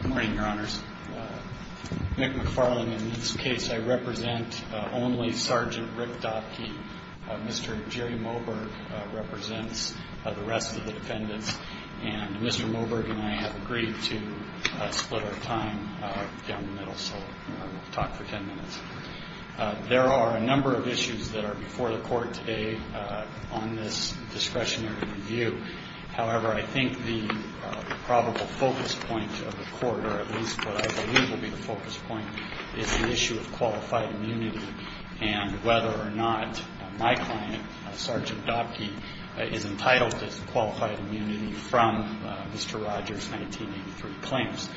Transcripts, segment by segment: Good morning, Your Honors. Nick McFarlane. In this case, I represent only Sgt. Rick Dottke. Mr. Jerry Moberg represents the rest of the defendants. And Mr. Moberg and I have agreed to split our time down the middle. So we'll talk for ten minutes. There are a number of issues that are before the Court today on this discretionary review. However, I think the probable focus point of the Court, or at least what I believe will be the focus point, is the issue of qualified immunity and whether or not my client, Sgt. Dottke, is entitled to qualified immunity from Mr. Rogers' 1983 claims.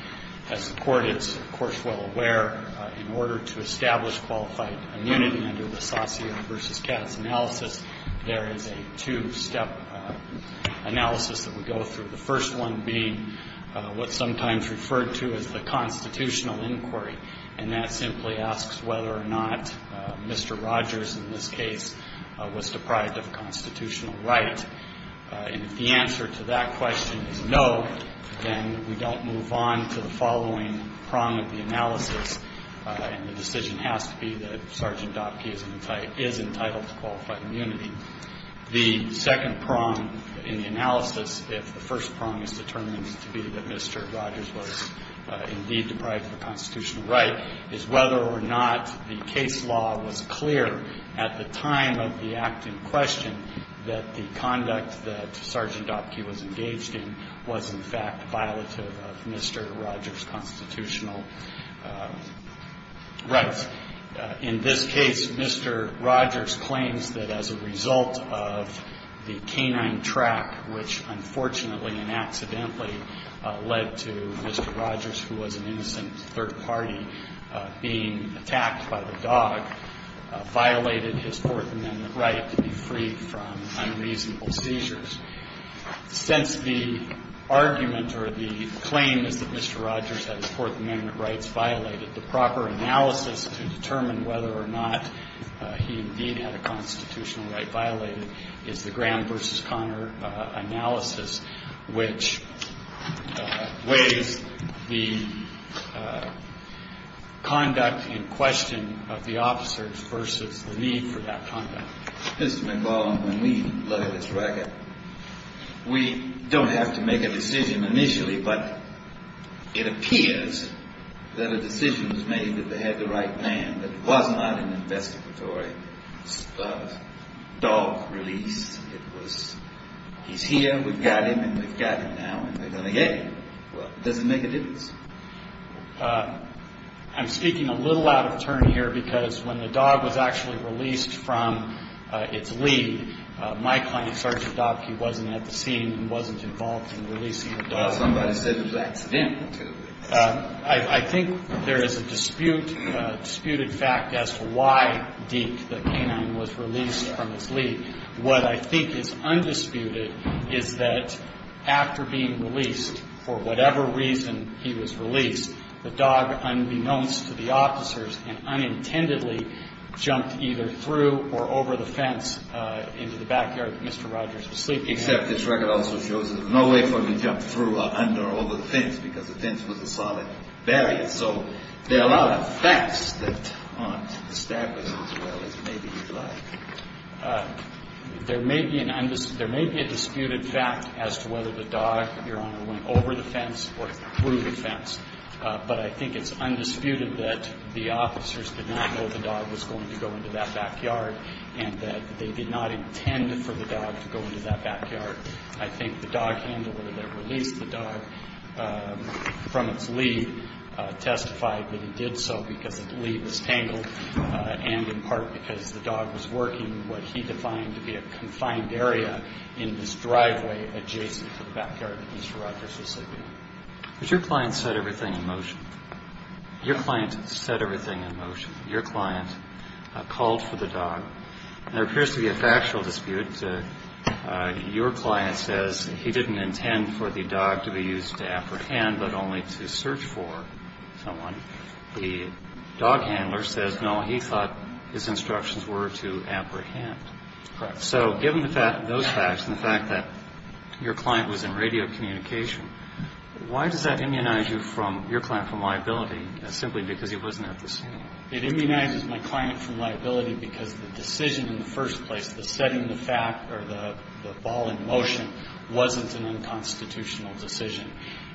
As the Court is, of course, well aware, in order to establish qualified immunity under the Saucier v. Katz analysis, there is a two-step analysis that we go through, the first one being what's sometimes referred to as the constitutional inquiry. And that simply asks whether or not Mr. Rogers, in this case, was deprived of constitutional right. And if the answer to that question is no, then we don't move on to the following prong of the analysis, and the decision has to be that Sgt. Dottke is entitled to qualified immunity. The second prong in the analysis, if the first prong is determined to be that Mr. Rogers was indeed deprived of a constitutional right, is whether or not the case law was clear at the time of the act in question that the conduct that Sgt. Dottke was engaged in was, in fact, violative of Mr. Rogers' constitutional rights. In this case, Mr. Rogers claims that as a result of the canine track, which unfortunately and accidentally led to Mr. Rogers, who was an innocent third party, being attacked by the dog, violated his court amendment right to be freed from unreasonable seizures. Since the argument or the claim is that Mr. Rogers had his court amendment rights violated, the proper analysis to determine whether or not he indeed had a constitutional right violated is the Graham v. Connor analysis, which weighs the conduct in question of the officers versus the need for that conduct. Mr. McLaughlin, when we look at this record, we don't have to make a decision initially, but it appears that a decision was made that they had the right man. It was not an investigatory dog release. It was he's here, we've got him, and we've got him now, and we're going to get him. Does it make a difference? I'm speaking a little out of turn here because when the dog was actually released from its lead, my client, Sergeant Dobke, wasn't at the scene and wasn't involved in releasing the dog. Well, somebody said it was accidental, too. I think there is a dispute, a disputed fact as to why Deke, the canine, was released from its lead. What I think is undisputed is that after being released, for whatever reason he was released, the dog, unbeknownst to the officers and unintendedly, jumped either through or over the fence into the backyard that Mr. Rogers was sleeping in. Except this record also shows there's no way for him to jump through or under or over the fence because the fence was a solid barrier. So there are a lot of facts that aren't established as well as maybe you'd like. There may be a disputed fact as to whether the dog, Your Honor, went over the fence or through the fence, but I think it's undisputed that the officers did not know the dog was going to go into that backyard and that they did not intend for the dog to go into that backyard. I think the dog handler that released the dog from its lead testified that he did so because the lead was tangled and in part because the dog was working what he defined to be a confined area in this driveway adjacent to the backyard that Mr. Rogers was sleeping in. But your client set everything in motion. Your client set everything in motion. Your client called for the dog. There appears to be a factual dispute. Your client says he didn't intend for the dog to be used to apprehend but only to search for someone. The dog handler says, no, he thought his instructions were to apprehend. Correct. So given those facts and the fact that your client was in radio communication, why does that immunize you from your client from liability simply because he wasn't at the scene? It immunizes my client from liability because the decision in the first place, the setting the fact or the ball in motion, wasn't an unconstitutional decision.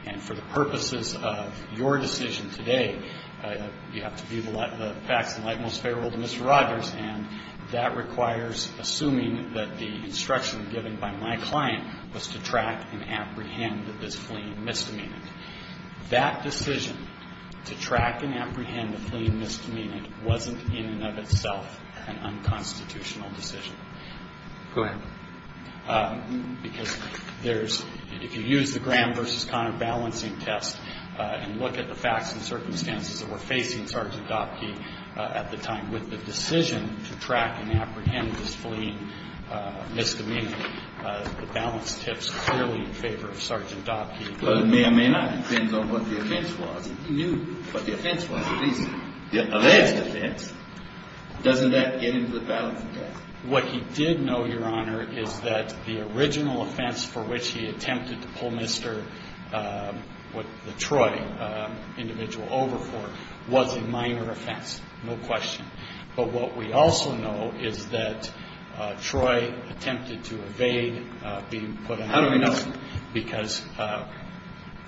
And for the purposes of your decision today, you have to view the facts in light most favorable to Mr. Rogers, and that requires assuming that the instruction given by my client was to track and apprehend this fleeing misdemeanor. That decision to track and apprehend the fleeing misdemeanor wasn't in and of itself an unconstitutional decision. Go ahead. Because there's – if you use the Graham v. Connor balancing test and look at the facts and circumstances that were facing Sergeant Dopke at the time with the decision to track and apprehend this fleeing misdemeanor, the balance tips clearly in favor of Sergeant Dopke. Well, it may or may not depend on what the offense was. He knew what the offense was, at least. The arrest offense, doesn't that get into the balancing test? What he did know, Your Honor, is that the original offense for which he attempted to pull Mr. – what the Troy individual over for was a minor offense, no question. But what we also know is that Troy attempted to evade being put in – How do we know? Because,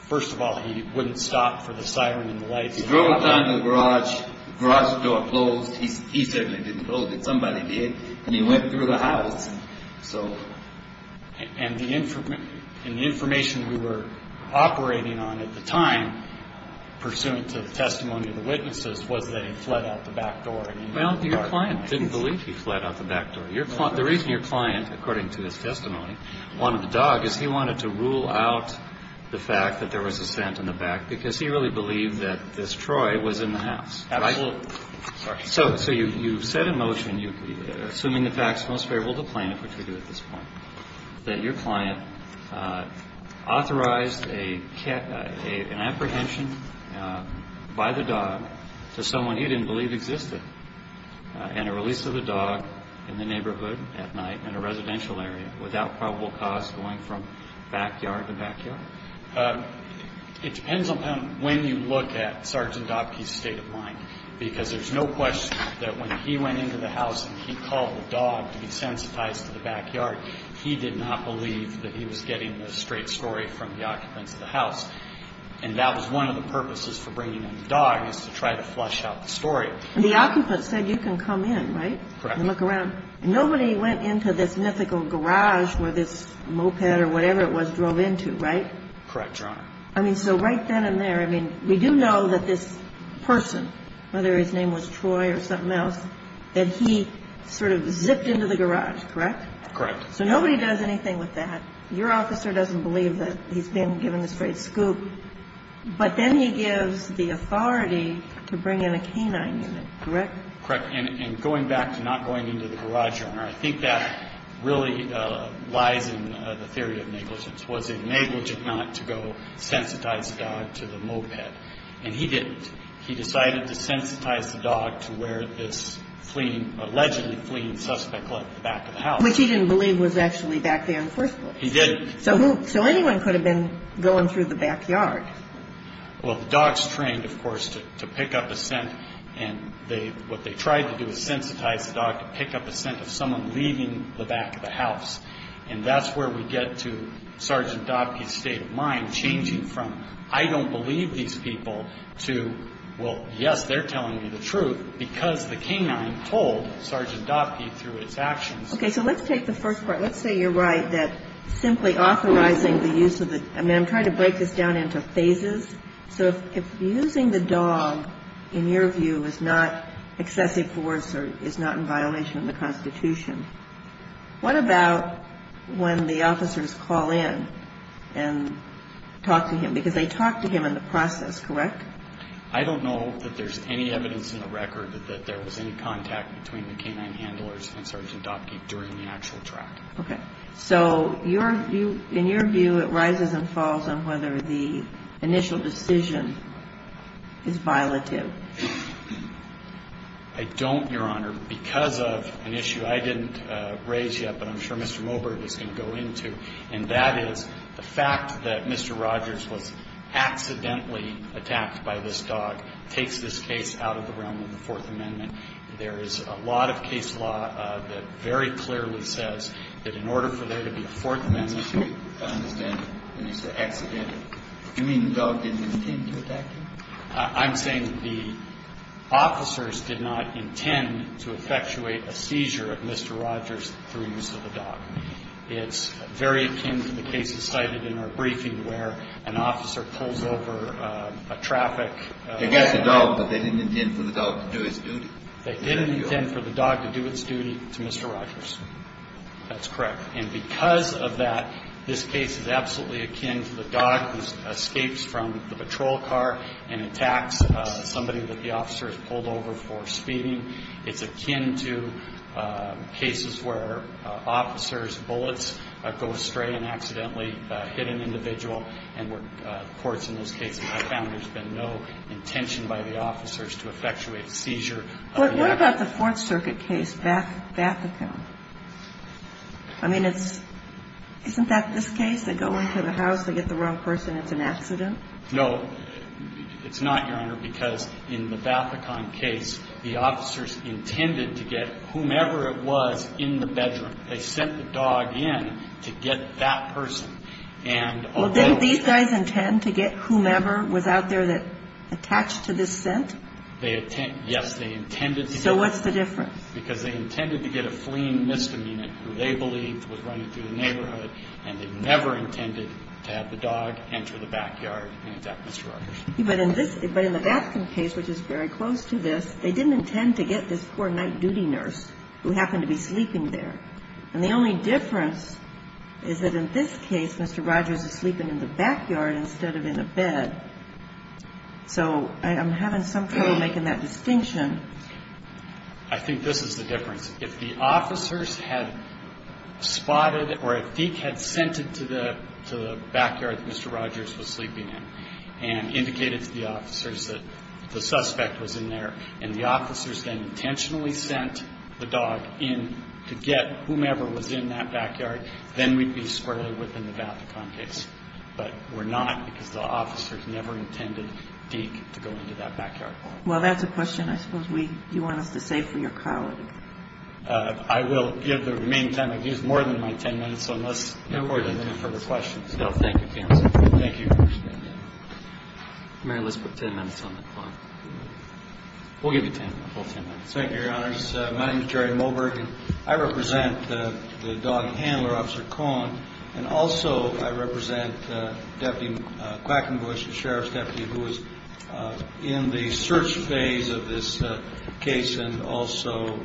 first of all, he wouldn't stop for the siren and the lights. He drove down to the garage, the garage door closed. He certainly didn't close it. Somebody did, and he went through the house. And the information we were operating on at the time, pursuant to the testimony of the witnesses, was that he fled out the back door. Well, your client didn't believe he fled out the back door. The reason your client, according to his testimony, wanted the dog is he wanted to rule out the fact that there was a scent in the back because he really believed that this Troy was in the house. And I will – Sorry. So you set a motion, assuming the facts most favorable to the plaintiff, which we do at this point, that your client authorized an apprehension by the dog to someone he didn't believe existed and a release of the dog in the neighborhood at night in a residential area without probable cause going from backyard to backyard? It depends on when you look at Sergeant Dobke's state of mind, because there's no question that when he went into the house and he called the dog to be sensitized to the backyard, he did not believe that he was getting the straight story from the occupants of the house. And that was one of the purposes for bringing in the dog, is to try to flush out the story. And the occupants said you can come in, right? Correct. And look around. Nobody went into this mythical garage where this moped or whatever it was drove into, right? Correct, Your Honor. I mean, so right then and there, I mean, we do know that this person, whether his name was Troy or something else, that he sort of zipped into the garage, correct? Correct. So nobody does anything with that. Your officer doesn't believe that he's been given the straight scoop. But then he gives the authority to bring in a canine unit, correct? Correct. And going back to not going into the garage, Your Honor, I think that really lies in the theory of negligence. Was it negligent not to go sensitize the dog to the moped? And he didn't. He decided to sensitize the dog to where this allegedly fleeing suspect left the back of the house. Which he didn't believe was actually back there in the first place. He didn't. So anyone could have been going through the backyard. Well, the dogs trained, of course, to pick up a scent, and what they tried to do was sensitize the dog to pick up a scent of someone leaving the back of the house. And that's where we get to Sergeant Dottie's state of mind changing from, I don't believe these people to, well, yes, they're telling me the truth, because the canine told Sergeant Dottie through its actions. Okay. So let's take the first part. Let's say you're right that simply authorizing the use of the, I mean, I'm trying to break this down into phases. So if using the dog, in your view, is not excessive force or is not in violation of the Constitution, what about when the officers call in and talk to him? Because they talked to him in the process, correct? I don't know that there's any evidence in the record that there was any contact between the canine handlers and Sergeant Dottie during the actual track. Okay. So in your view, it rises and falls on whether the initial decision is violative. I don't, Your Honor, because of an issue I didn't raise yet, but I'm sure Mr. Mobert is going to go into, and that is the fact that Mr. Rogers was accidentally attacked by this dog takes this case out of the realm of the Fourth Amendment. There is a lot of case law that very clearly says that in order for there to be a Fourth Amendment. I understand when you say accidentally. Do you mean the dog didn't intend to attack him? I'm saying the officers did not intend to effectuate a seizure of Mr. Rogers through use of the dog. It's very akin to the cases cited in our briefing where an officer pulls over a traffic. Against the dog, but they didn't intend for the dog to do its duty. They didn't intend for the dog to do its duty to Mr. Rogers. That's correct. And because of that, this case is absolutely akin to the dog who escapes from the patrol car and attacks somebody that the officer has pulled over for speeding. It's akin to cases where officers' bullets go astray and accidentally hit an individual, and where courts in those cases have found there's been no intention by the officers to effectuate a seizure. What about the Fourth Circuit case, Bathacon? I mean, isn't that this case? They go into the house, they get the wrong person, it's an accident? No. It's not, Your Honor, because in the Bathacon case, the officers intended to get whomever it was in the bedroom. They sent the dog in to get that person. Well, didn't these guys intend to get whomever was out there that attached to this scent? Yes, they intended to. So what's the difference? Because they intended to get a fleeing misdemeanor who they believed was running through the neighborhood, and they never intended to have the dog enter the backyard and attack Mr. Rogers. But in the Bathacon case, which is very close to this, they didn't intend to get this poor night duty nurse who happened to be sleeping there. And the only difference is that in this case, Mr. Rogers is sleeping in the backyard instead of in a bed. So I'm having some trouble making that distinction. I think this is the difference. If the officers had spotted or a thief had sent it to the backyard that Mr. Rogers was sleeping in and indicated to the officers that the suspect was in there, and the officers then intentionally sent the dog in to get whomever was in that backyard, then we'd be squarely within the Bathacon case. But we're not because the officers never intended Deke to go into that backyard. Well, that's a question I suppose you want us to save for your colleague. I will give the remaining time. I've used more than my ten minutes, so unless there are any further questions. No, thank you, counsel. Thank you. Mayor, let's put ten minutes on the clock. We'll give you ten minutes. Thank you, Your Honors. My name is Jerry Moberg, and I represent the dog handler, Officer Cohen. And also I represent Deputy Quackenbush, the sheriff's deputy, who is in the search phase of this case and also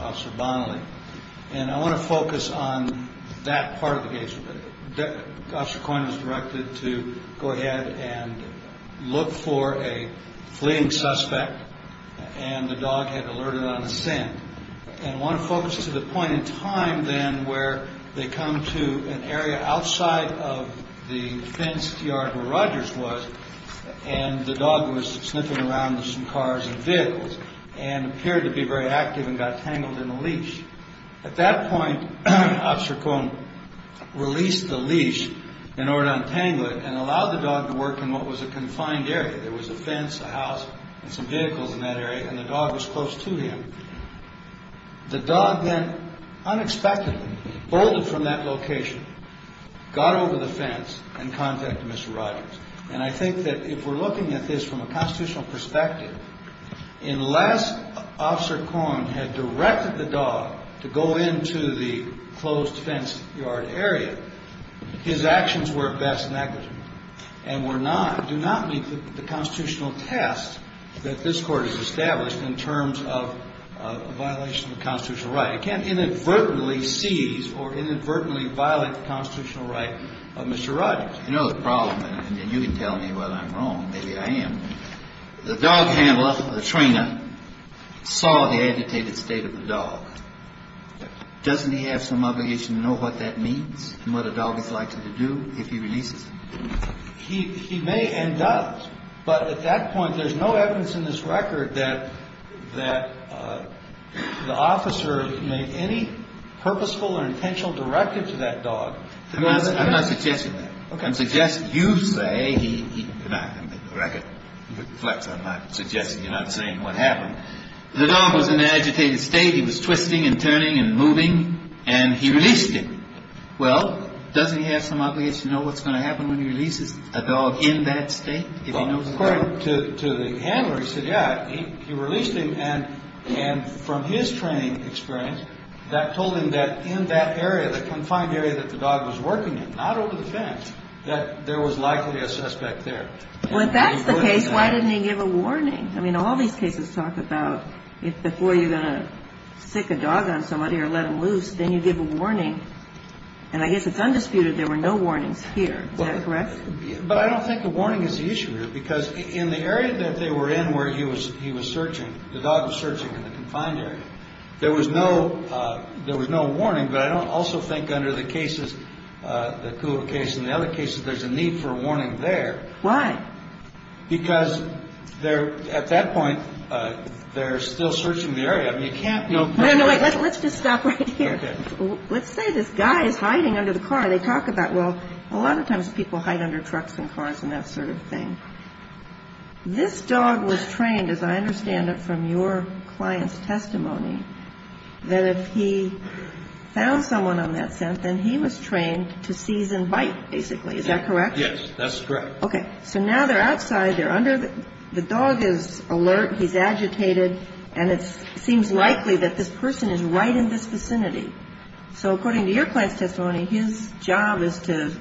Officer Bonnelly. And I want to focus on that part of the case. Officer Cohen was directed to go ahead and look for a fleeing suspect, and the dog had alerted on a scent. And I want to focus to the point in time then where they come to an area outside of the fenced yard where Rogers was, and the dog was sniffing around with some cars and vehicles and appeared to be very active and got tangled in a leash. At that point, Officer Cohen released the leash in order to untangle it and allowed the dog to work in what was a confined area. There was a fence, a house, and some vehicles in that area, and the dog was close to him. The dog then unexpectedly bolted from that location, got over the fence, and contacted Mr. Rogers. And I think that if we're looking at this from a constitutional perspective, unless Officer Cohen had directed the dog to go into the closed fence yard area, his actions were at best negative and do not meet the constitutional test that this Court has established in terms of a violation of constitutional right. It can't inadvertently seize or inadvertently violate the constitutional right of Mr. Rogers. You know the problem, and you can tell me whether I'm wrong, maybe I am. The dog handler, the trainer, saw the agitated state of the dog. Doesn't he have some obligation to know what that means and what a dog is likely to do if he releases him? He may and does. But at that point, there's no evidence in this record that the officer made any purposeful or intentional directive to that dog. I'm not suggesting that. I'm suggesting you say, not in the record. Flex, I'm not suggesting, you're not saying what happened. The dog was in an agitated state. He was twisting and turning and moving, and he released him. Well, doesn't he have some obligation to know what's going to happen when he releases a dog in that state? According to the handler, he said, yeah, he released him, and from his training experience, that told him that in that area, the confined area that the dog was working in, not over the fence, that there was likely a suspect there. Well, if that's the case, why didn't he give a warning? I mean, all these cases talk about if before you're going to stick a dog on somebody or let him loose, then you give a warning. And I guess it's undisputed there were no warnings here. Is that correct? But I don't think a warning is the issue here, because in the area that they were in where he was searching, the dog was searching in the confined area. So there was no warning. But I don't also think under the cases, the Kula case and the other cases, there's a need for a warning there. Why? Because at that point, they're still searching the area. I mean, you can't know. No, no, wait. Let's just stop right here. Let's say this guy is hiding under the car. They talk about, well, a lot of times people hide under trucks and cars and that sort of thing. This dog was trained, as I understand it from your client's testimony, that if he found someone on that scent, then he was trained to seize and bite, basically. Is that correct? Yes, that's correct. Okay. So now they're outside. The dog is alert. He's agitated. And it seems likely that this person is right in this vicinity. So according to your client's testimony, his job is to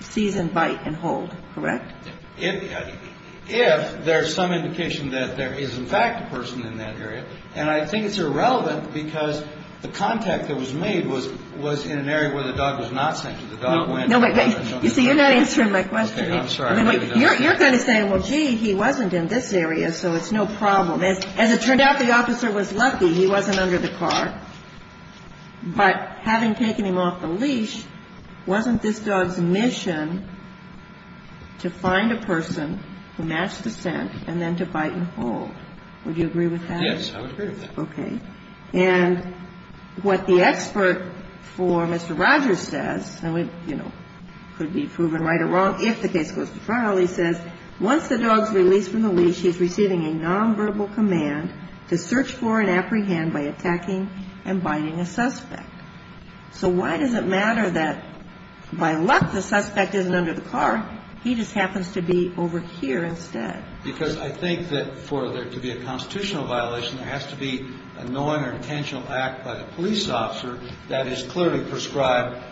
seize and bite and hold, correct? If there's some indication that there is, in fact, a person in that area. And I think it's irrelevant because the contact that was made was in an area where the dog was not scented. The dog went. No, wait, wait. You see, you're not answering my question. Okay, I'm sorry. You're kind of saying, well, gee, he wasn't in this area, so it's no problem. As it turned out, the officer was lucky. He wasn't under the car. But having taken him off the leash, wasn't this dog's mission to find a person who matched the scent and then to bite and hold? Would you agree with that? Yes, I would agree with that. Okay. And what the expert for Mr. Rogers says, and, you know, could be proven right or wrong if the case goes to trial, he says, once the dog's released from the leash, he's receiving a nonverbal command to search for and apprehend by attacking and biting a suspect. So why does it matter that, by luck, the suspect isn't under the car? He just happens to be over here instead. Because I think that for there to be a constitutional violation, there has to be a knowing or intentional act by the police officer that is clearly prescribed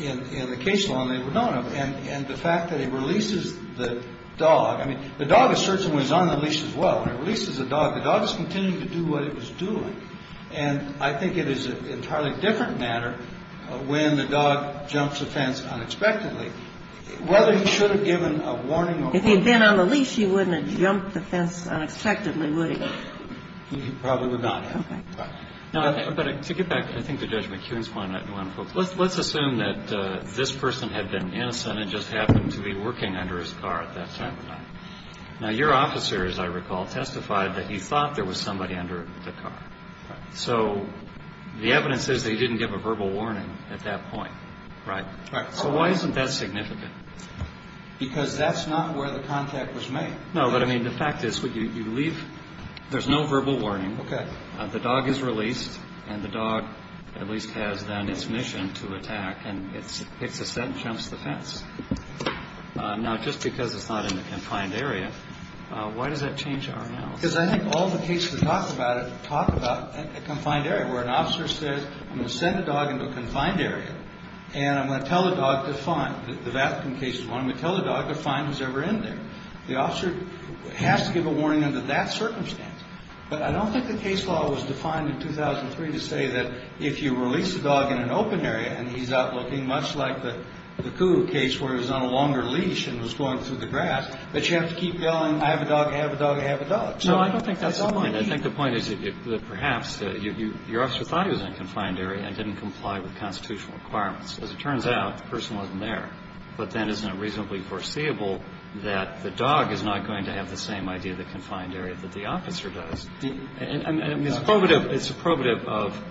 in the case law and they were known of. And the fact that he releases the dog, I mean, the dog is searching when he's on the leash as well. When he releases the dog, the dog is continuing to do what it was doing. And I think it is an entirely different matter when the dog jumps the fence unexpectedly. Whether he should have given a warning or not. If he had been on the leash, he wouldn't have jumped the fence unexpectedly, would he? He probably would not have. Okay. But to get back, I think to Judge McKeown's point, let's assume that this person had been innocent and just happened to be working under his car at that time. Now, your officer, as I recall, testified that he thought there was somebody under the car. So the evidence says that he didn't give a verbal warning at that point, right? Right. So why isn't that significant? Because that's not where the contact was made. No, but I mean, the fact is, you leave, there's no verbal warning. Okay. The dog is released, and the dog at least has then its mission to attack. And it picks a scent and jumps the fence. Now, just because it's not in a confined area, why does that change our analysis? Because I think all the cases that talk about it talk about a confined area, where an officer says, I'm going to send a dog into a confined area, and I'm going to tell the dog to find. The Vatican case is one. I'm going to tell the dog to find who's ever in there. The officer has to give a warning under that circumstance. But I don't think the case law was defined in 2003 to say that if you release a dog in an open area and he's out looking, much like the Coo case where he was on a longer leash and was going through the grass, that you have to keep yelling, I have a dog, I have a dog, I have a dog. No, I don't think that's the point. I think the point is that perhaps your officer thought he was in a confined area and didn't comply with constitutional requirements. As it turns out, the person wasn't there. But then isn't it reasonably foreseeable that the dog is not going to have the same idea of the confined area that the officer does? I mean, it's probative of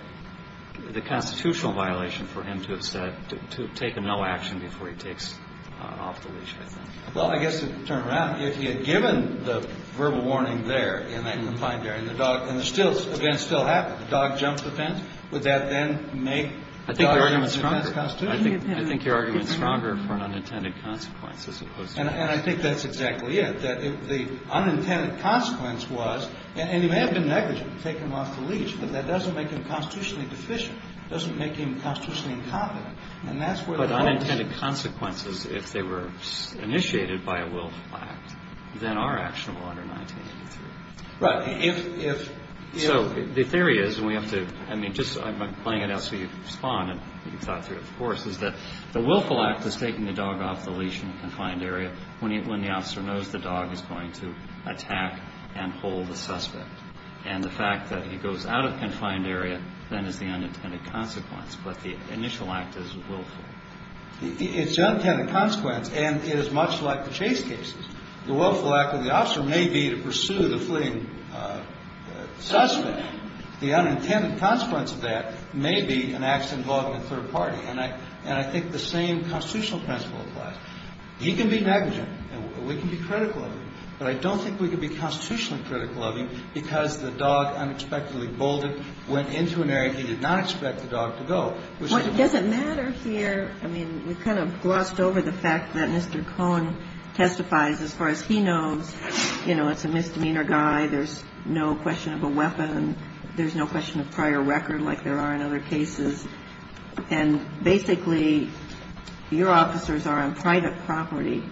the constitutional violation for him to have said, to have taken no action before he takes off the leash, I think. Well, I guess, to turn around, if he had given the verbal warning there in that confined area and the dog, and the event still happened, the dog jumped the fence, would that then make the argument that the fence constituted? I think your argument is stronger for an unintended consequence as opposed to this. And I think that's exactly it. The unintended consequence was, and he may have been negligent in taking him off the leash, but that doesn't make him constitutionally deficient. It doesn't make him constitutionally incompetent. But unintended consequences, if they were initiated by a willful act, then are actionable under 1983. Right. So the theory is, and we have to, I mean, just I'm playing it out so you can respond and you can thought through it, of course, is that the willful act is taking the dog off the leash in a confined area when the dog is going to attack and hold the suspect. And the fact that he goes out of the confined area then is the unintended consequence. But the initial act is willful. It's the unintended consequence, and it is much like the Chase cases. The willful act of the officer may be to pursue the fleeing suspect. The unintended consequence of that may be an accident involving a third party. And I think the same constitutional principle applies. He can be negligent. We can be critical of him. But I don't think we can be constitutionally critical of him because the dog unexpectedly bolded, went into an area he did not expect the dog to go. What doesn't matter here, I mean, we kind of glossed over the fact that Mr. Cohn testifies as far as he knows. You know, it's a misdemeanor guy. There's no question of a weapon. There's no question of prior record like there are in other cases. And basically your officers are on private property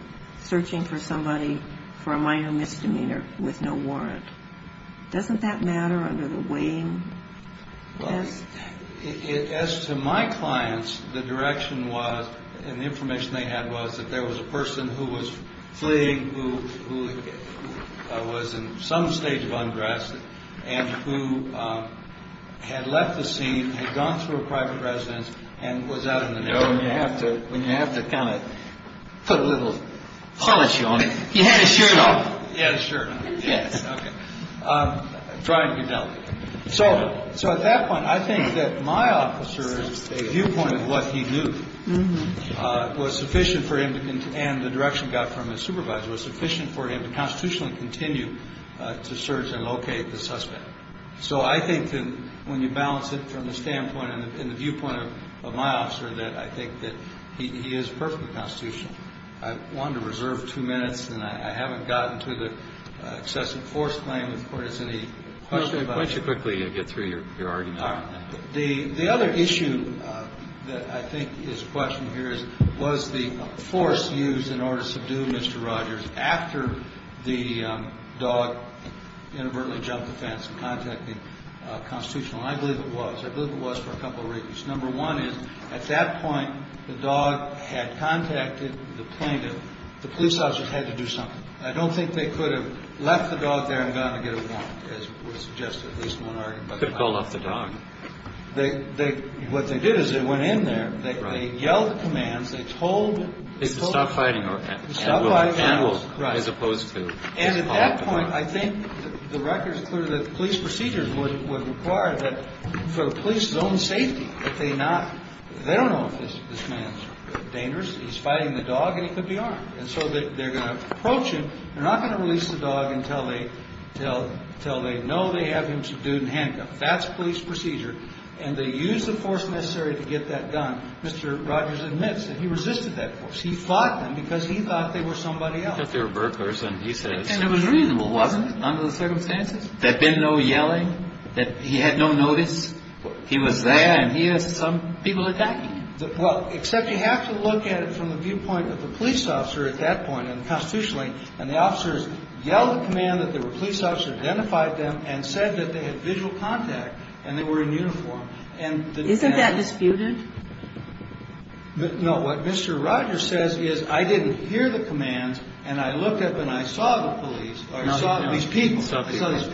searching for somebody for a minor misdemeanor with no warrant. Doesn't that matter under the weighing test? As to my clients, the direction was and the information they had was that there was a person who was fleeing, who was in some stage of unrest and who had left the scene, had gone through a private residence and was out in the middle. You know, you have to when you have to kind of put a little polish on it. You had a shirt off. Yes, sure. Yes. OK. Try and get down. So. So at that point, I think that my officers viewpoint of what he knew was sufficient for him. And the direction got from his supervisor was sufficient for him to constitutionally continue to search and locate the suspect. So I think that when you balance it from the standpoint and the viewpoint of my officer, that I think that he is perfectly constitutional. I want to reserve two minutes and I haven't gotten to the excessive force claim. Of course, any questions? I should quickly get through your argument. The other issue that I think is a question here is, was the force used in order to subdue Mr. Rogers after the dog inadvertently jumped the fence and contacted the constitutional? I believe it was. I believe it was for a couple of reasons. Number one is at that point, the dog had contacted the plaintiff. The police officers had to do something. I don't think they could have left the dog there and gone to get a warrant, as was suggested at least in one argument. They could have called off the dog. What they did is they went in there. They yelled commands. They told them. Stop fighting. Stop fighting. As opposed to. And at that point, I think the record is clear that the police procedures would require that for police zone safety, that they not, they don't know if this man is dangerous. He's fighting the dog and he could be armed. And so they're going to approach him. They're not going to release the dog until they know they have him subdued and handcuffed. That's police procedure. And they use the force necessary to get that done. Mr. Rogers admits that he resisted that force. He fought them because he thought they were somebody else. Because they were burglars and he said. And it was reasonable, wasn't it, under the circumstances? There had been no yelling, that he had no notice. He was there and he had some people attacking him. Well, except you have to look at it from the viewpoint of the police officer at that point and constitutionally. And the officers yelled a command that the police officer identified them and said that they had visual contact and they were in uniform. And. Isn't that disputed? No. What Mr. Rogers says is I didn't hear the commands and I looked up and I saw the police. I saw these people. I saw these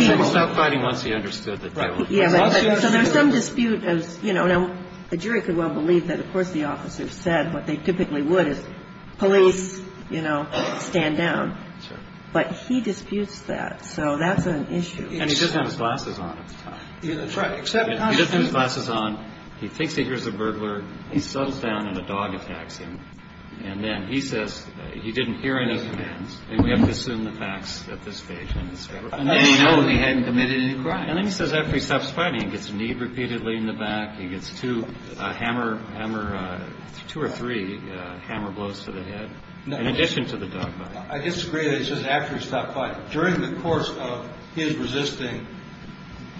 people. Stop fighting once he understood. So there's some dispute of, you know. Now, the jury could well believe that, of course, the officers said what they typically would is police, you know, stand down. But he disputes that. So that's an issue. And he doesn't have his glasses on at the time. That's right. He doesn't have his glasses on. He thinks he hears a burglar. He settles down and a dog attacks him. And then he says he didn't hear any commands and we have to assume the facts at this stage. And then he knows he hadn't committed any crime. And then he says after he stops fighting, he gets kneed repeatedly in the back. He gets two hammer, hammer, two or three hammer blows to the head. In addition to the dog bite. I disagree. He says after he stopped fighting. During the course of his resisting,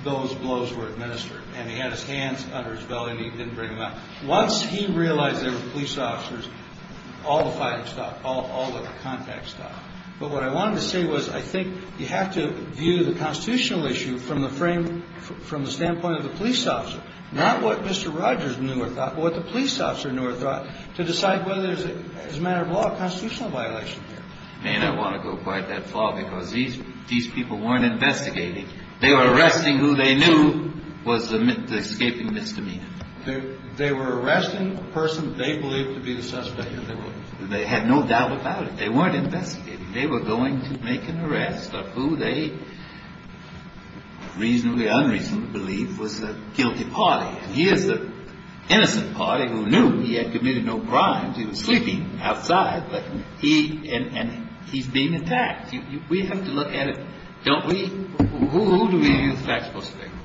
those blows were administered. And he had his hands under his belly and he didn't bring them out. Once he realized there were police officers, all the fighting stopped. All the contact stopped. But what I wanted to say was I think you have to view the constitutional issue from the standpoint of the police officer. Not what Mr. Rogers knew or thought, but what the police officer knew or thought to decide whether it was a matter of law or constitutional violation. And I want to go quite that far because these people weren't investigating. They were arresting who they knew was the escaping misdemeanor. They were arresting a person they believed to be the suspect. They had no doubt about it. They weren't investigating. They were going to make an arrest of who they reasonably unreasonably believed was the guilty party. And here's the innocent party who knew he had committed no crimes. He was sleeping outside. But he and he's being attacked. We have to look at it, don't we? Who do we view the facts most favorably?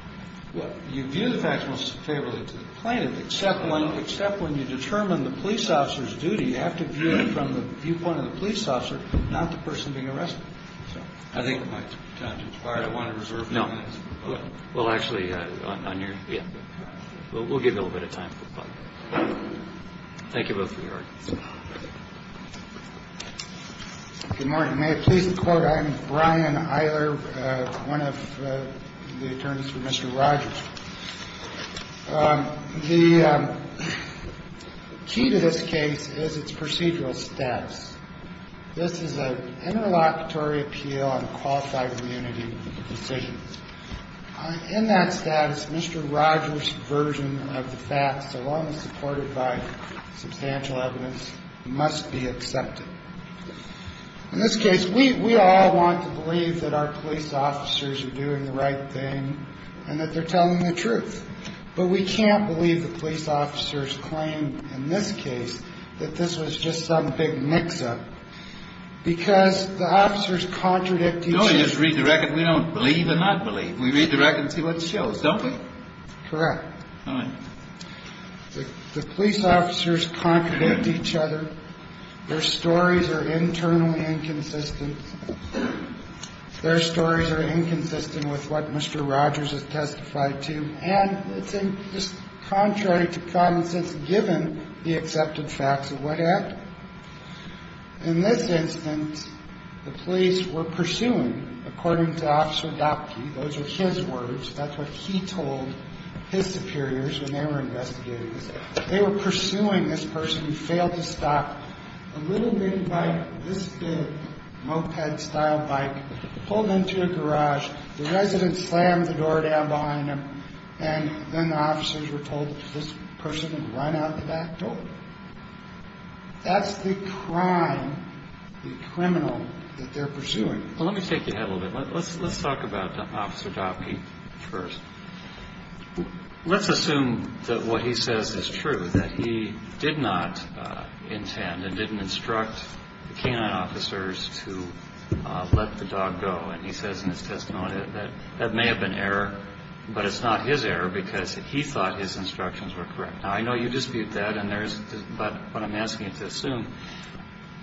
Well, you view the facts most favorably to the plaintiff, except when you determine the police officer's duty. You have to view it from the viewpoint of the police officer, not the person being arrested. I think it's time to expire. I want to reserve. No. Well, actually, on your. Yeah. We'll give a little bit of time. Thank you. Good morning. May it please the Court. I'm Brian Eiler, one of the attorneys for Mr. Rogers. The key to this case is its procedural status. This is an interlocutory appeal on qualified immunity decisions. In that status, Mr. Rogers' version of the facts, along with supported by substantial evidence, must be accepted. In this case, we all want to believe that our police officers are doing the right thing and that they're telling the truth. But we can't believe the police officers' claim in this case that this was just some big mix-up because the officers contradict each other. No, we just read the record. We don't believe and not believe. We read the record and see what shows, don't we? Correct. All right. The police officers contradict each other. Their stories are internally inconsistent. Their stories are inconsistent with what Mr. Rogers has testified to. And it's just contrary to common sense, given the accepted facts of what happened. In this instance, the police were pursuing, according to Officer Dopke, those were his words. That's what he told his superiors when they were investigating this. They were pursuing this person who failed to stop a little big bike, this big, moped-style bike, pulled into a garage. The resident slammed the door down behind him, and then the officers were told that this person had run out the back door. That's the crime, the criminal, that they're pursuing. Well, let me take you ahead a little bit. Let's talk about Officer Dopke first. Let's assume that what he says is true, that he did not intend and didn't instruct the K-9 officers to let the dog go. And he says in his testimony that that may have been error, but it's not his error because he thought his instructions were correct. Now, I know you dispute that, but what I'm asking you to assume,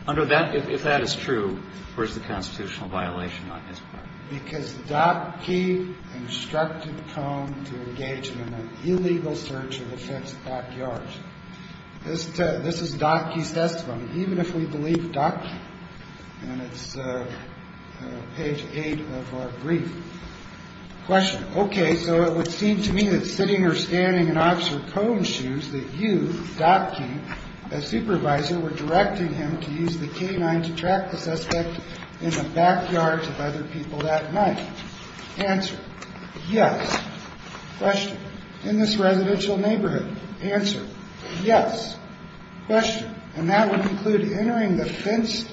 under that, if that is true, where's the constitutional violation on his part? Because Dopke instructed Cone to engage in an illegal search of the Feds' backyards. This is Dopke's testimony, even if we believe Dopke. And it's page 8 of our brief. Question. Okay. So it would seem to me that sitting or standing in Officer Cone's shoes that you, Dopke, as supervisor, were directing him to use the K-9 to track the suspect in the backyards of other people that night. Answer. Yes. Question. In this residential neighborhood. Answer. Yes. Question. And that would include entering the fenced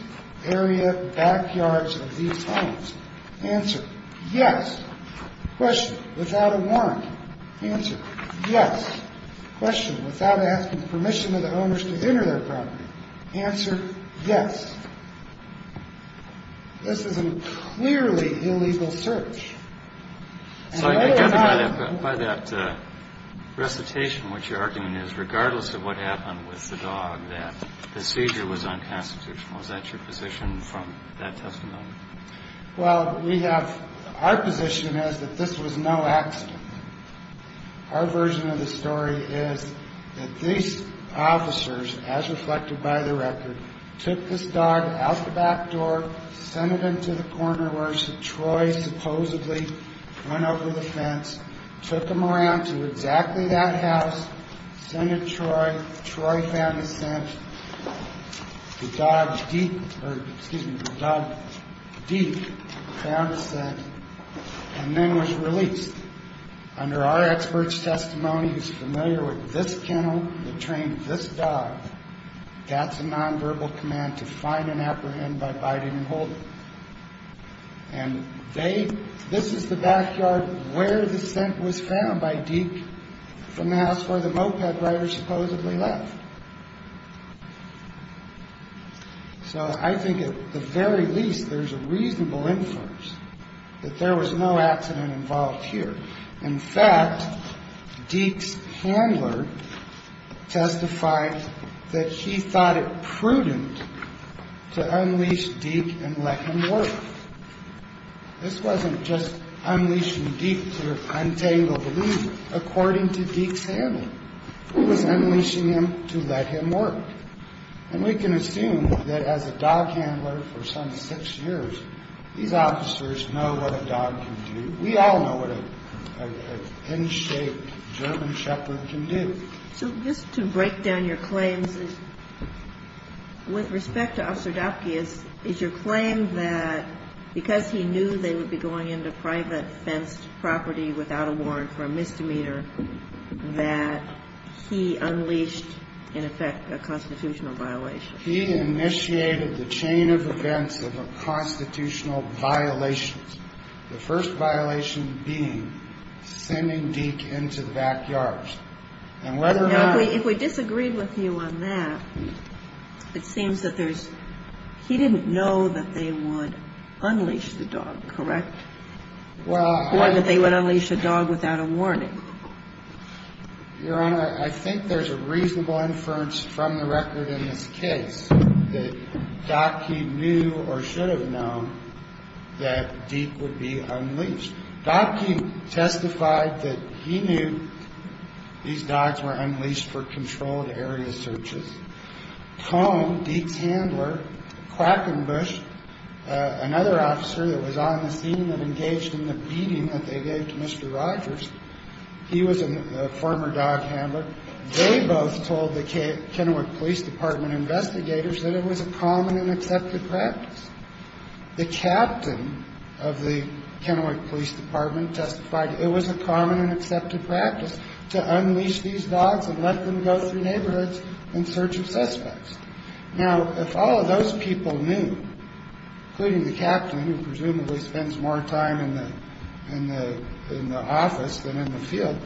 area backyards of these homes. Answer. Yes. Question. Without a warrant. Answer. Yes. Question. Without asking permission of the owners to enter their property. Answer. Yes. This is a clearly illegal search. So I gather by that recitation, what you're arguing is, regardless of what happened with the dog, that the seizure was unconstitutional. Is that your position from that testimony? Well, we have – our position is that this was no accident. Our version of the story is that these officers, as reflected by the record, took this dog out the back door, sent it into the corner where Troy supposedly run over the fence, took him around to exactly that house, sent it to Troy, Troy found the scent, the dog, Deke, found the scent, and then was released. Under our expert's testimony, who's familiar with this kennel that trained this dog, that's a nonverbal command to find and apprehend by biting and holding. And they – this is the backyard where the scent was found by Deke from the house where the moped driver supposedly left. So I think at the very least, there's a reasonable inference that there was no accident involved here. In fact, Deke's handler testified that he thought it prudent to unleash Deke and let him work. This wasn't just unleashing Deke to untangle the leash. According to Deke's handler, it was unleashing him to let him work. And we can assume that as a dog handler for some six years, these officers know what a dog can do. We all know what an N-shaped German shepherd can do. So just to break down your claims, with respect to Officer Dopke, is your claim that because he knew they would be going into private fenced property without a warrant for a misdemeanor, that he unleashed, in effect, a constitutional violation? He initiated the chain of events of a constitutional violation. The first violation being sending Deke into the backyard. And whether or not – Now, if we disagreed with you on that, it seems that there's – he didn't know that they would unleash the dog, correct? Well – Or that they would unleash a dog without a warning. Your Honor, I think there's a reasonable inference from the record in this case that Dopke knew or should have known that Deke would be unleashed. Dopke testified that he knew these dogs were unleashed for controlled area searches. Cone, Deke's handler, Quackenbush, another officer that was on the scene and engaged in the beating that they gave to Mr. Rogers, he was a former dog handler. They both told the Kennewick Police Department investigators that it was a common and accepted practice. The captain of the Kennewick Police Department testified it was a common and accepted practice to unleash these dogs and let them go through neighborhoods in search of suspects. Now, if all of those people knew, including the captain, who presumably spends more time in the office than in the field,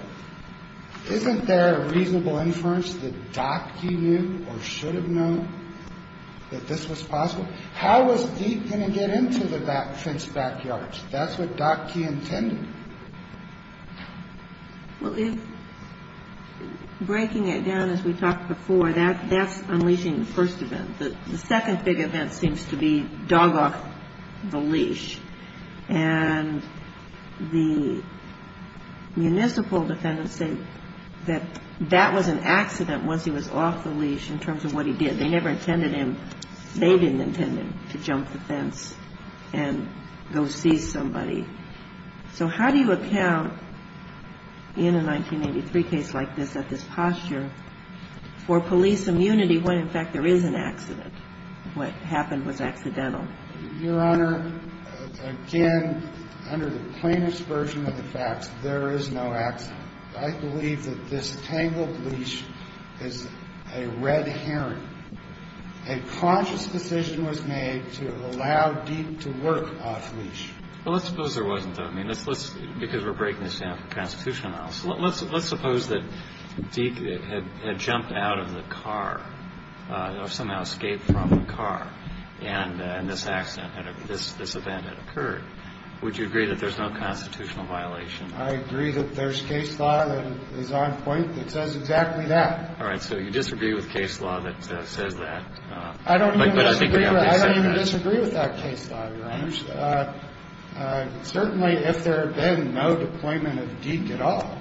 isn't there a reasonable inference that Dopke knew or should have known that this was possible? How was Deke going to get into the fenced backyards? That's what Dopke intended. Well, if – breaking it down as we talked before, that's unleashing the first event. The second big event seems to be dog off the leash. And the municipal defendants say that that was an accident once he was off the leash in terms of what he did. They never intended him – they didn't intend him to jump the fence and go see somebody. So how do you account in a 1983 case like this, at this posture, for police immunity when, in fact, there is an accident, what happened was accidental? Your Honor, again, under the plainest version of the facts, there is no accident. I believe that this tangled leash is a red herring. A conscious decision was made to allow Deke to work off leash. Well, let's suppose there wasn't, though. I mean, let's – because we're breaking this down for constitutional analysis. Let's suppose that Deke had jumped out of the car or somehow escaped from the car and this accident, this event had occurred. Would you agree that there's no constitutional violation? I agree that there's case law that is on point that says exactly that. All right. So you disagree with case law that says that. I don't even disagree with that case law, Your Honor. Certainly, if there had been no deployment of Deke at all,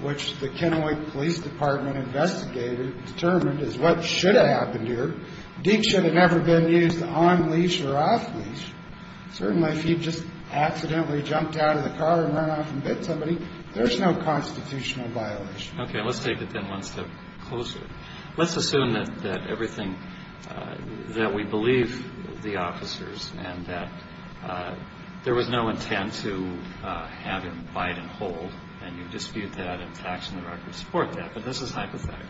which the Kennewick Police Department investigated and determined is what should have happened here, Deke should have never been used on leash or off leash. Certainly, if he just accidentally jumped out of the car and ran off and bit somebody, there's no constitutional violation. Okay. Let's take it then one step closer. Let's assume that everything – that we believe the officers and that there was no intent to have him bite and hold, and you dispute that and facts and the records support that, but this is hypothetical,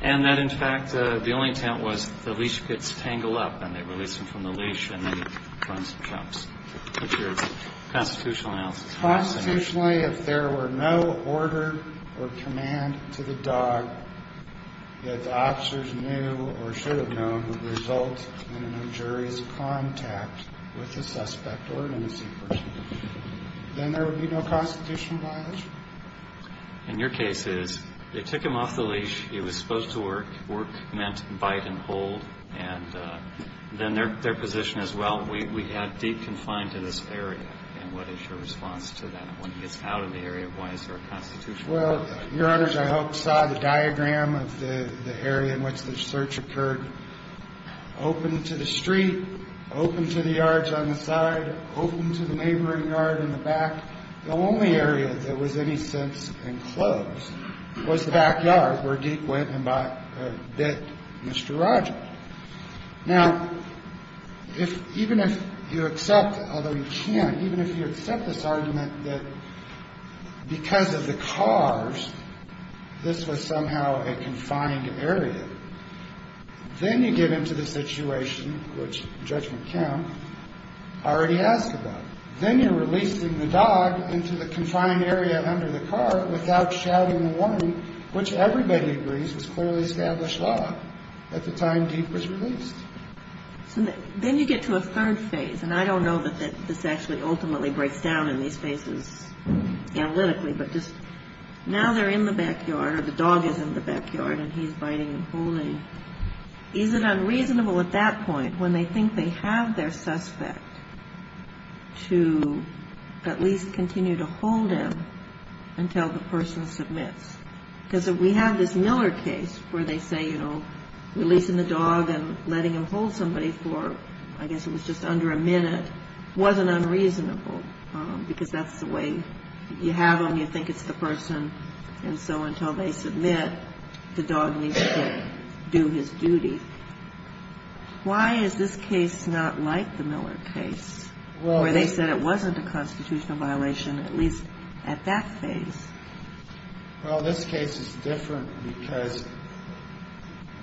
and that, in fact, the only intent was the leash gets tangled up and they release him from the leash and then he runs and jumps. What's your constitutional analysis? Constitutionally, if there were no order or command to the dog that the officers knew or should have known would result in an injurious contact with the suspect or an innocent person, then there would be no constitutional violation. And your case is they took him off the leash. He was supposed to work. Work meant bite and hold. And then their position is, well, we had Deke confined to this area, and what is your response to that? When he gets out of the area, why is there a constitutional violation? Well, Your Honors, I hope saw the diagram of the area in which the search occurred. Open to the street, open to the yards on the side, open to the neighboring yard in the back. The only area that was any sense enclosed was the backyard where Deke went and bit Mr. Rogers. Now, even if you accept, although you can't, even if you accept this argument that because of the cars, this was somehow a confined area, then you get into the situation, which Judgment Count already asked about. Then you're releasing the dog into the confined area under the car without shouting the warning, which everybody agrees was clearly established law at the time Deke was released. So then you get to a third phase, and I don't know that this actually ultimately breaks down in these phases analytically, but just now they're in the backyard or the dog is in the backyard and he's biting and holding. Is it unreasonable at that point, when they think they have their suspect, to at least continue to hold him until the person submits? Because we have this Miller case where they say, you know, releasing the dog and letting him hold somebody for, I guess it was just under a minute, wasn't unreasonable because that's the way you have them. And so until they submit, the dog needs to do his duty. Why is this case not like the Miller case where they said it wasn't a constitutional violation, at least at that phase? Well, this case is different because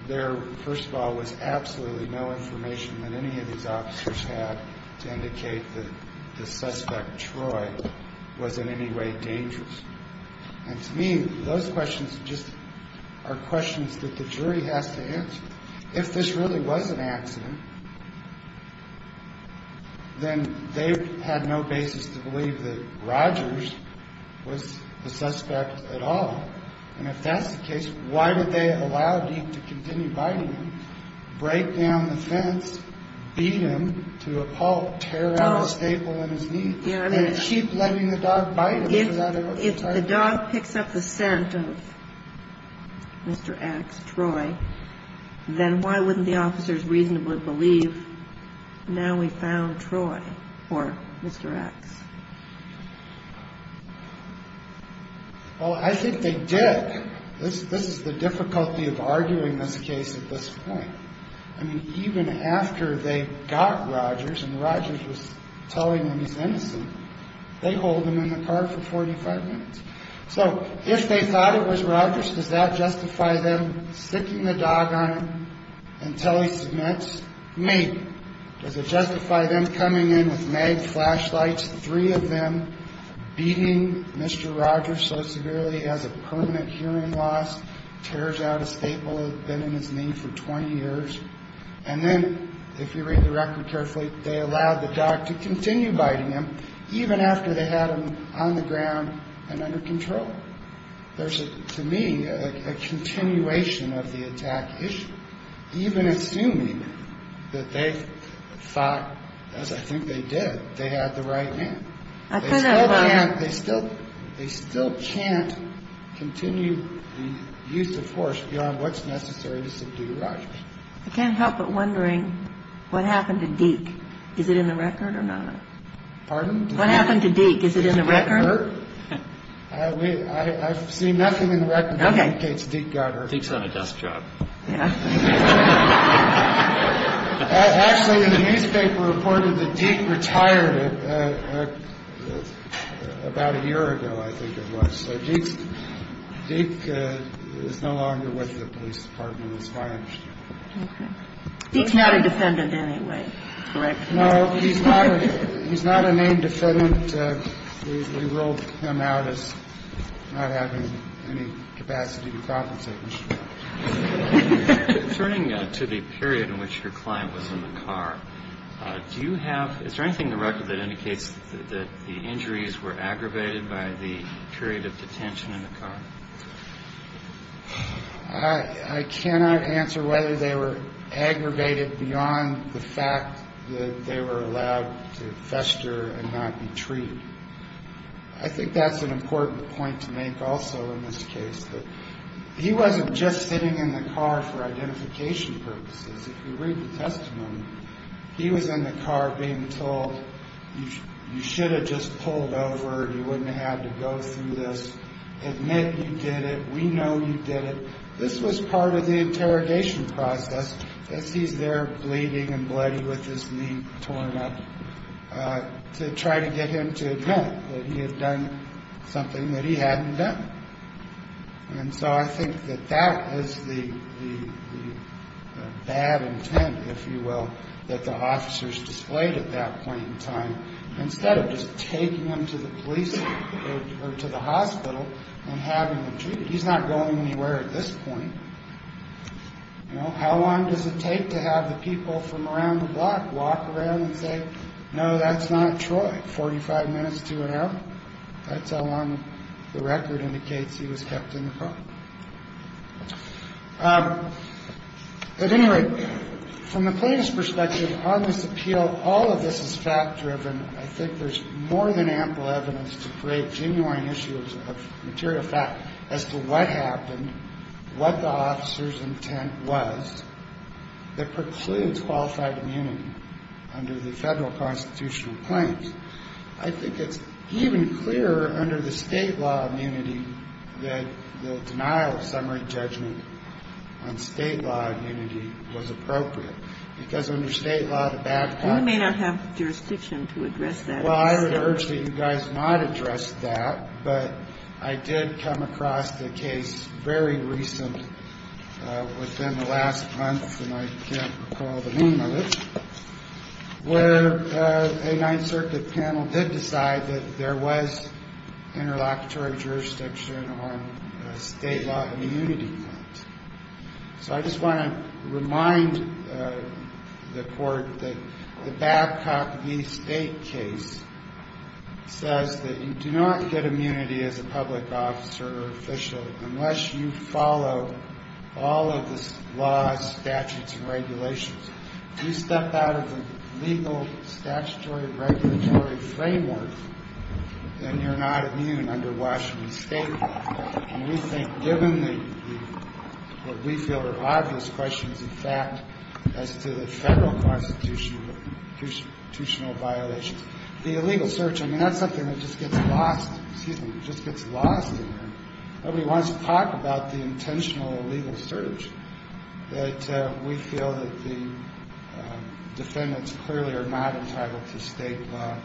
there, first of all, was absolutely no information that any of these officers had to indicate that the suspect, Troy, was in any way dangerous. And to me, those questions just are questions that the jury has to answer. If this really was an accident, then they had no basis to believe that Rogers was the suspect at all. And if that's the case, why would they allow Deke to continue biting him, break down the fence, beat him to a pulp, tear out a staple in his knee, and keep letting the dog bite him? If the dog picks up the scent of Mr. X, Troy, then why wouldn't the officers reasonably believe now we found Troy or Mr. X? Well, I think they did. This is the difficulty of arguing this case at this point. I mean, even after they got Rogers and Rogers was telling them he's innocent, they hold him in the car for 45 minutes. So if they thought it was Rogers, does that justify them sticking the dog on him until he submits? Maybe. Does it justify them coming in with mag flashlights, three of them beating Mr. Rogers so severely he has a permanent hearing loss, tears out a staple that had been in his knee for 20 years, and then, if you read the record carefully, they allowed the dog to continue biting him even after they had him on the ground and under control. There's, to me, a continuation of the attack issue. Even assuming that they thought, as I think they did, they had the right man. They still can't continue the use of force beyond what's necessary to subdue Rogers. I can't help but wondering what happened to Deke. Is it in the record or not? Pardon? What happened to Deke? Is it in the record? I've seen nothing in the record that indicates Deke got hurt. Deke's on a desk job. Actually, the newspaper reported that Deke retired about a year ago, I think it was. So Deke is no longer with the police department as far as I understand. Deke's not a defendant anyway, correct? No, he's not a named defendant. We ruled him out as not having any capacity to compensate. Returning to the period in which your client was in the car, is there anything in the record that indicates that the injuries were aggravated by the period of detention in the car? I cannot answer whether they were aggravated beyond the fact that they were allowed to fester and not be treated. I think that's an important point to make also in this case. He wasn't just sitting in the car for identification purposes. If you read the testimony, he was in the car being told, you should have just pulled over and you wouldn't have had to go through this. Admit you did it. We know you did it. This was part of the interrogation process, as he's there bleeding and bloody with his knee torn up, to try to get him to admit that he had done something that he hadn't done. And so I think that that is the bad intent, if you will, that the officers displayed at that point in time, instead of just taking him to the police or to the hospital and having him treated. He's not going anywhere at this point. How long does it take to have the people from around the block walk around and say, no, that's not Troy, 45 minutes to an hour? That's how long the record indicates he was kept in the car. At any rate, from the plaintiff's perspective on this appeal, all of this is fact driven. I think there's more than ample evidence to create genuine issues of material fact as to what happened, what the officer's intent was, that precludes qualified immunity under the federal constitutional plaintiffs. I think it's even clearer under the state law immunity that the denial of summary judgment on state law immunity was appropriate, because under state law, the bad part... You may not have jurisdiction to address that. Well, I would urge that you guys not address that, but I did come across the case very recently within the last month, and I can't recall the name of it, where a Ninth Circuit panel did decide that there was interlocutory jurisdiction on state law immunity. So I just want to remind the Court that the Babcock v. State case, says that you do not get immunity as a public officer or official unless you follow all of the laws, statutes, and regulations. If you step out of the legal, statutory, regulatory framework, then you're not immune under Washington State law. And we think, given what we feel are obvious questions, in fact, as to the federal constitutional violations, the illegal search, I mean, that's something that just gets lost in there. Nobody wants to talk about the intentional illegal search, that we feel that the defendants clearly are not entitled to state law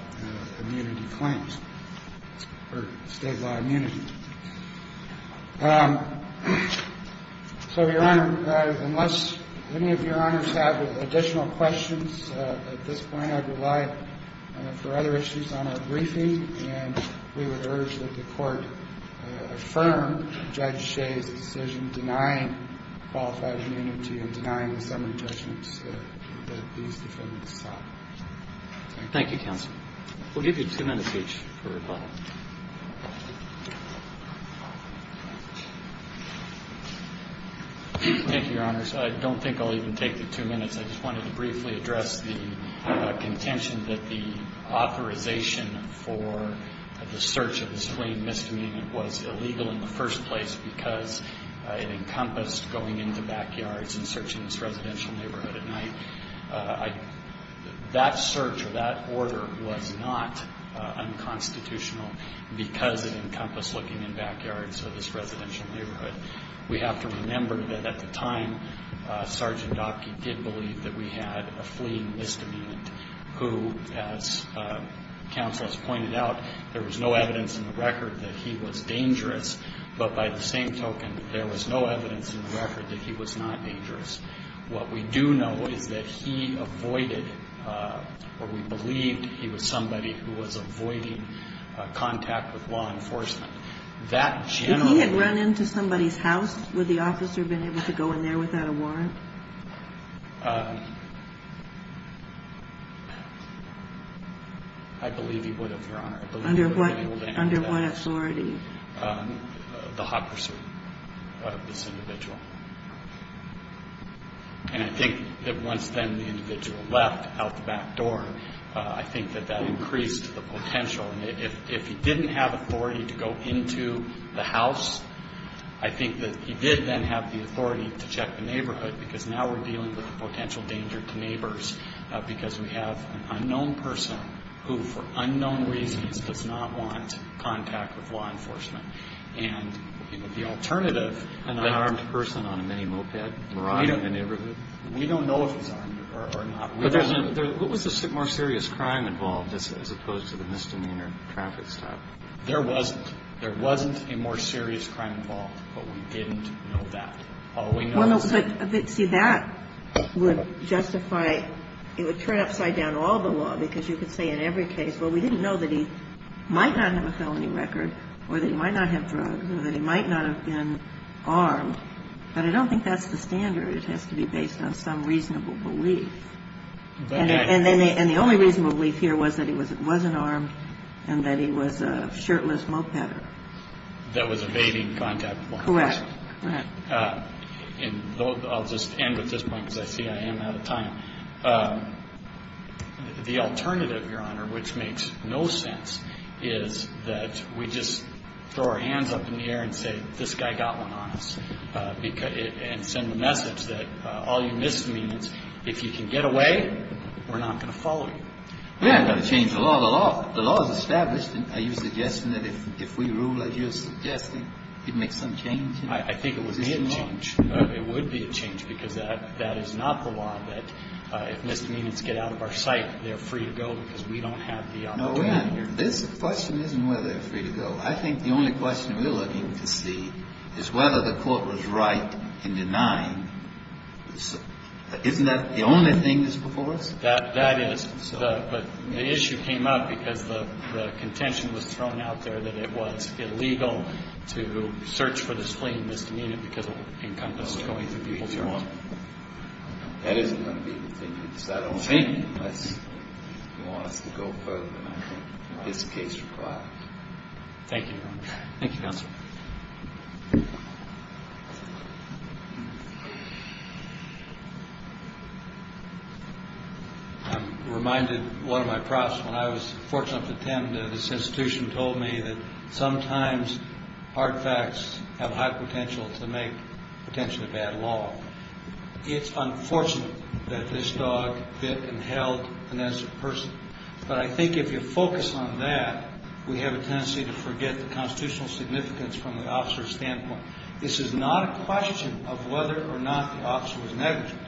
immunity claims, or state law immunity. So, Your Honor, unless any of Your Honors have additional questions at this point, I'd rely for other issues on our briefing, and we would urge that the Court affirm Judge Shea's decision denying qualified immunity and denying the summary judgments that these defendants sought. Thank you. Thank you, counsel. We'll give you two minutes each for rebuttal. Thank you, Your Honors. I don't think I'll even take the two minutes. I just wanted to briefly address the contention that the authorization for the search of this fleeing misdemeanant was illegal in the first place because it encompassed going into backyards and searching this residential neighborhood at night. That search, or that order, was not unconstitutional because it encompassed looking in backyards of this residential neighborhood. We have to remember that at the time, Sergeant Dopke did believe that we had a fleeing misdemeanant who, as counsel has pointed out, there was no evidence in the record that he was dangerous, but by the same token, there was no evidence in the record that he was not dangerous. What we do know is that he avoided, or we believed he was somebody who was avoiding contact with law enforcement. If he had run into somebody's house, would the officer have been able to go in there without a warrant? I believe he would have, Your Honor. Under what authority? The hot pursuit of this individual. I think that once then the individual left out the back door, I think that that increased the potential. If he didn't have authority to go into the house, I think that he did then have the authority to check the neighborhood because now we're dealing with the potential danger to neighbors because we have an unknown person who, for unknown reasons, does not want contact with law enforcement. And the alternative... An unarmed person on a mini-moped? We don't know if he's armed or not. What was the more serious crime involved as opposed to the misdemeanor traffic stop? There wasn't. There wasn't a more serious crime involved, but we didn't know that. All we know is that... See, that would justify, it would turn upside down all the law because you could say in every case, well, we didn't know that he might not have a felony record or that he might not have drugs or that he might not have been armed, but I don't think that's the standard. It has to be based on some reasonable belief. And the only reasonable belief here was that he wasn't armed and that he was a shirtless mopeder. That was evading contact with law enforcement. Correct. And I'll just end with this point because I see I am out of time. The alternative, Your Honor, which makes no sense, is that we just throw our hands up in the air and say, this guy got one on us, and send the message that all your misdemeanors, if you can get away, we're not going to follow you. We're not going to change the law. The law is established. Are you suggesting that if we rule as you're suggesting, it makes some change? I think it would be a change. It would be a change because that is not the law that if misdemeanors get out of our sight, they're free to go because we don't have the opportunity. No, we're not. The question isn't whether they're free to go. I think the only question we're looking to see is whether the court was right in denying, isn't that the only thing that's before us? That is, but the issue came up because the contention was thrown out there that it was illegal to search for this fleeing misdemeanor because it would encompass going through people's homes. That isn't going to be the thing. It's that only thing unless you want us to go further than I think this case requires. Thank you, Your Honor. Thank you, Counselor. I'm reminded one of my profs, when I was fortunate enough to attend this institution, told me that sometimes hard facts have high potential to make potentially bad law. It's unfortunate that this dog bit and held an innocent person, but I think if you focus on that, we have a tendency to forget the constitutional significance from the officer's standpoint. This is not a question of whether or not the officer was negligent.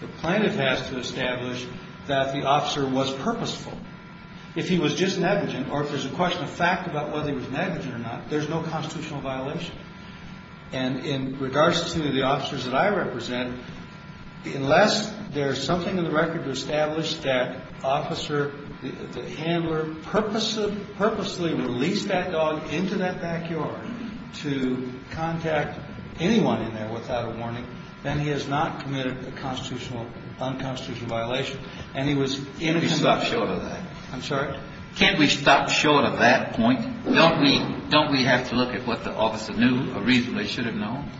The plaintiff has to establish that the officer was purposeful. If he was just negligent or if there's a question of fact about whether he was negligent or not, there's no constitutional violation. And in regards to the officers that I represent, unless there's something in the record to establish that the handler purposely released that dog into that backyard to contact anyone in there without a warning, then he has not committed a constitutional or unconstitutional violation. And he was innocent of that. Can we stop short of that? I'm sorry? Can we stop short of that point? Don't we have to look at what the officer knew or reasonably should have known?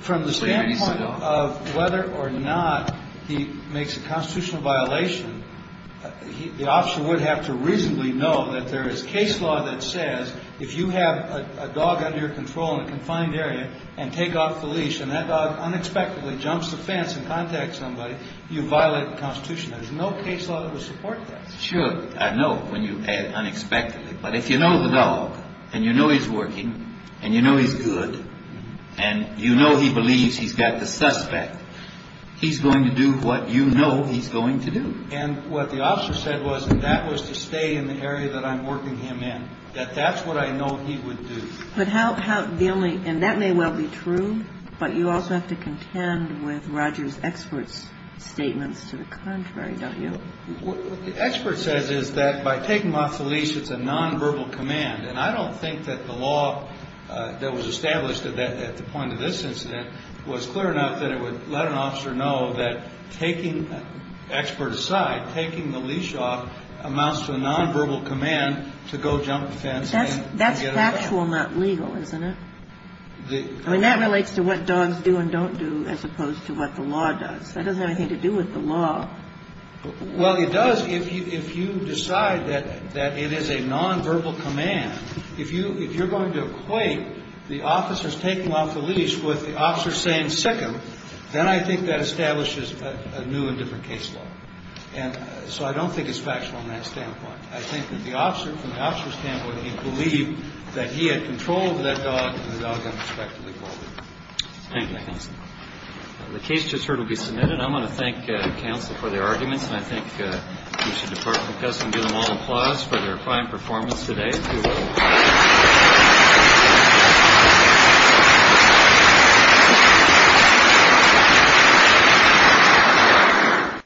From the standpoint of whether or not he makes a constitutional violation, the officer would have to reasonably know that there is case law that says if you have a dog under your control in a confined area and take off the leash and that dog unexpectedly jumps the fence and contacts somebody, you violate the Constitution. There's no case law that would support that. Sure. I know when you add unexpectedly. But if you know the dog and you know he's working and you know he's good and you know he believes he's got the suspect, he's going to do what you know he's going to do. And what the officer said was, and that was to stay in the area that I'm working him in, that that's what I know he would do. And that may well be true, but you also have to contend with Roger's expert's statements to the contrary, don't you? What the expert says is that by taking him off the leash, it's a nonverbal command. And I don't think that the law that was established at the point of this incident was clear enough that it would let an officer know that taking expert aside, taking the leash off amounts to a nonverbal command to go jump the fence. That's factual, not legal, isn't it? I mean, that relates to what dogs do and don't do as opposed to what the law does. That doesn't have anything to do with the law. Well, it does if you decide that it is a nonverbal command. If you're going to equate the officer's taking him off the leash with the officer saying, sick him, then I think that establishes a new and different case law. And so I don't think it's factual in that standpoint. I think that the officer, from the officer's standpoint, he believed that he had control over that dog and the dog had respect for the dog. Thank you. The case just heard will be submitted. I'm going to thank counsel for their arguments, and I think we should depart from this and give them all applause for their fine performance today. Thank you.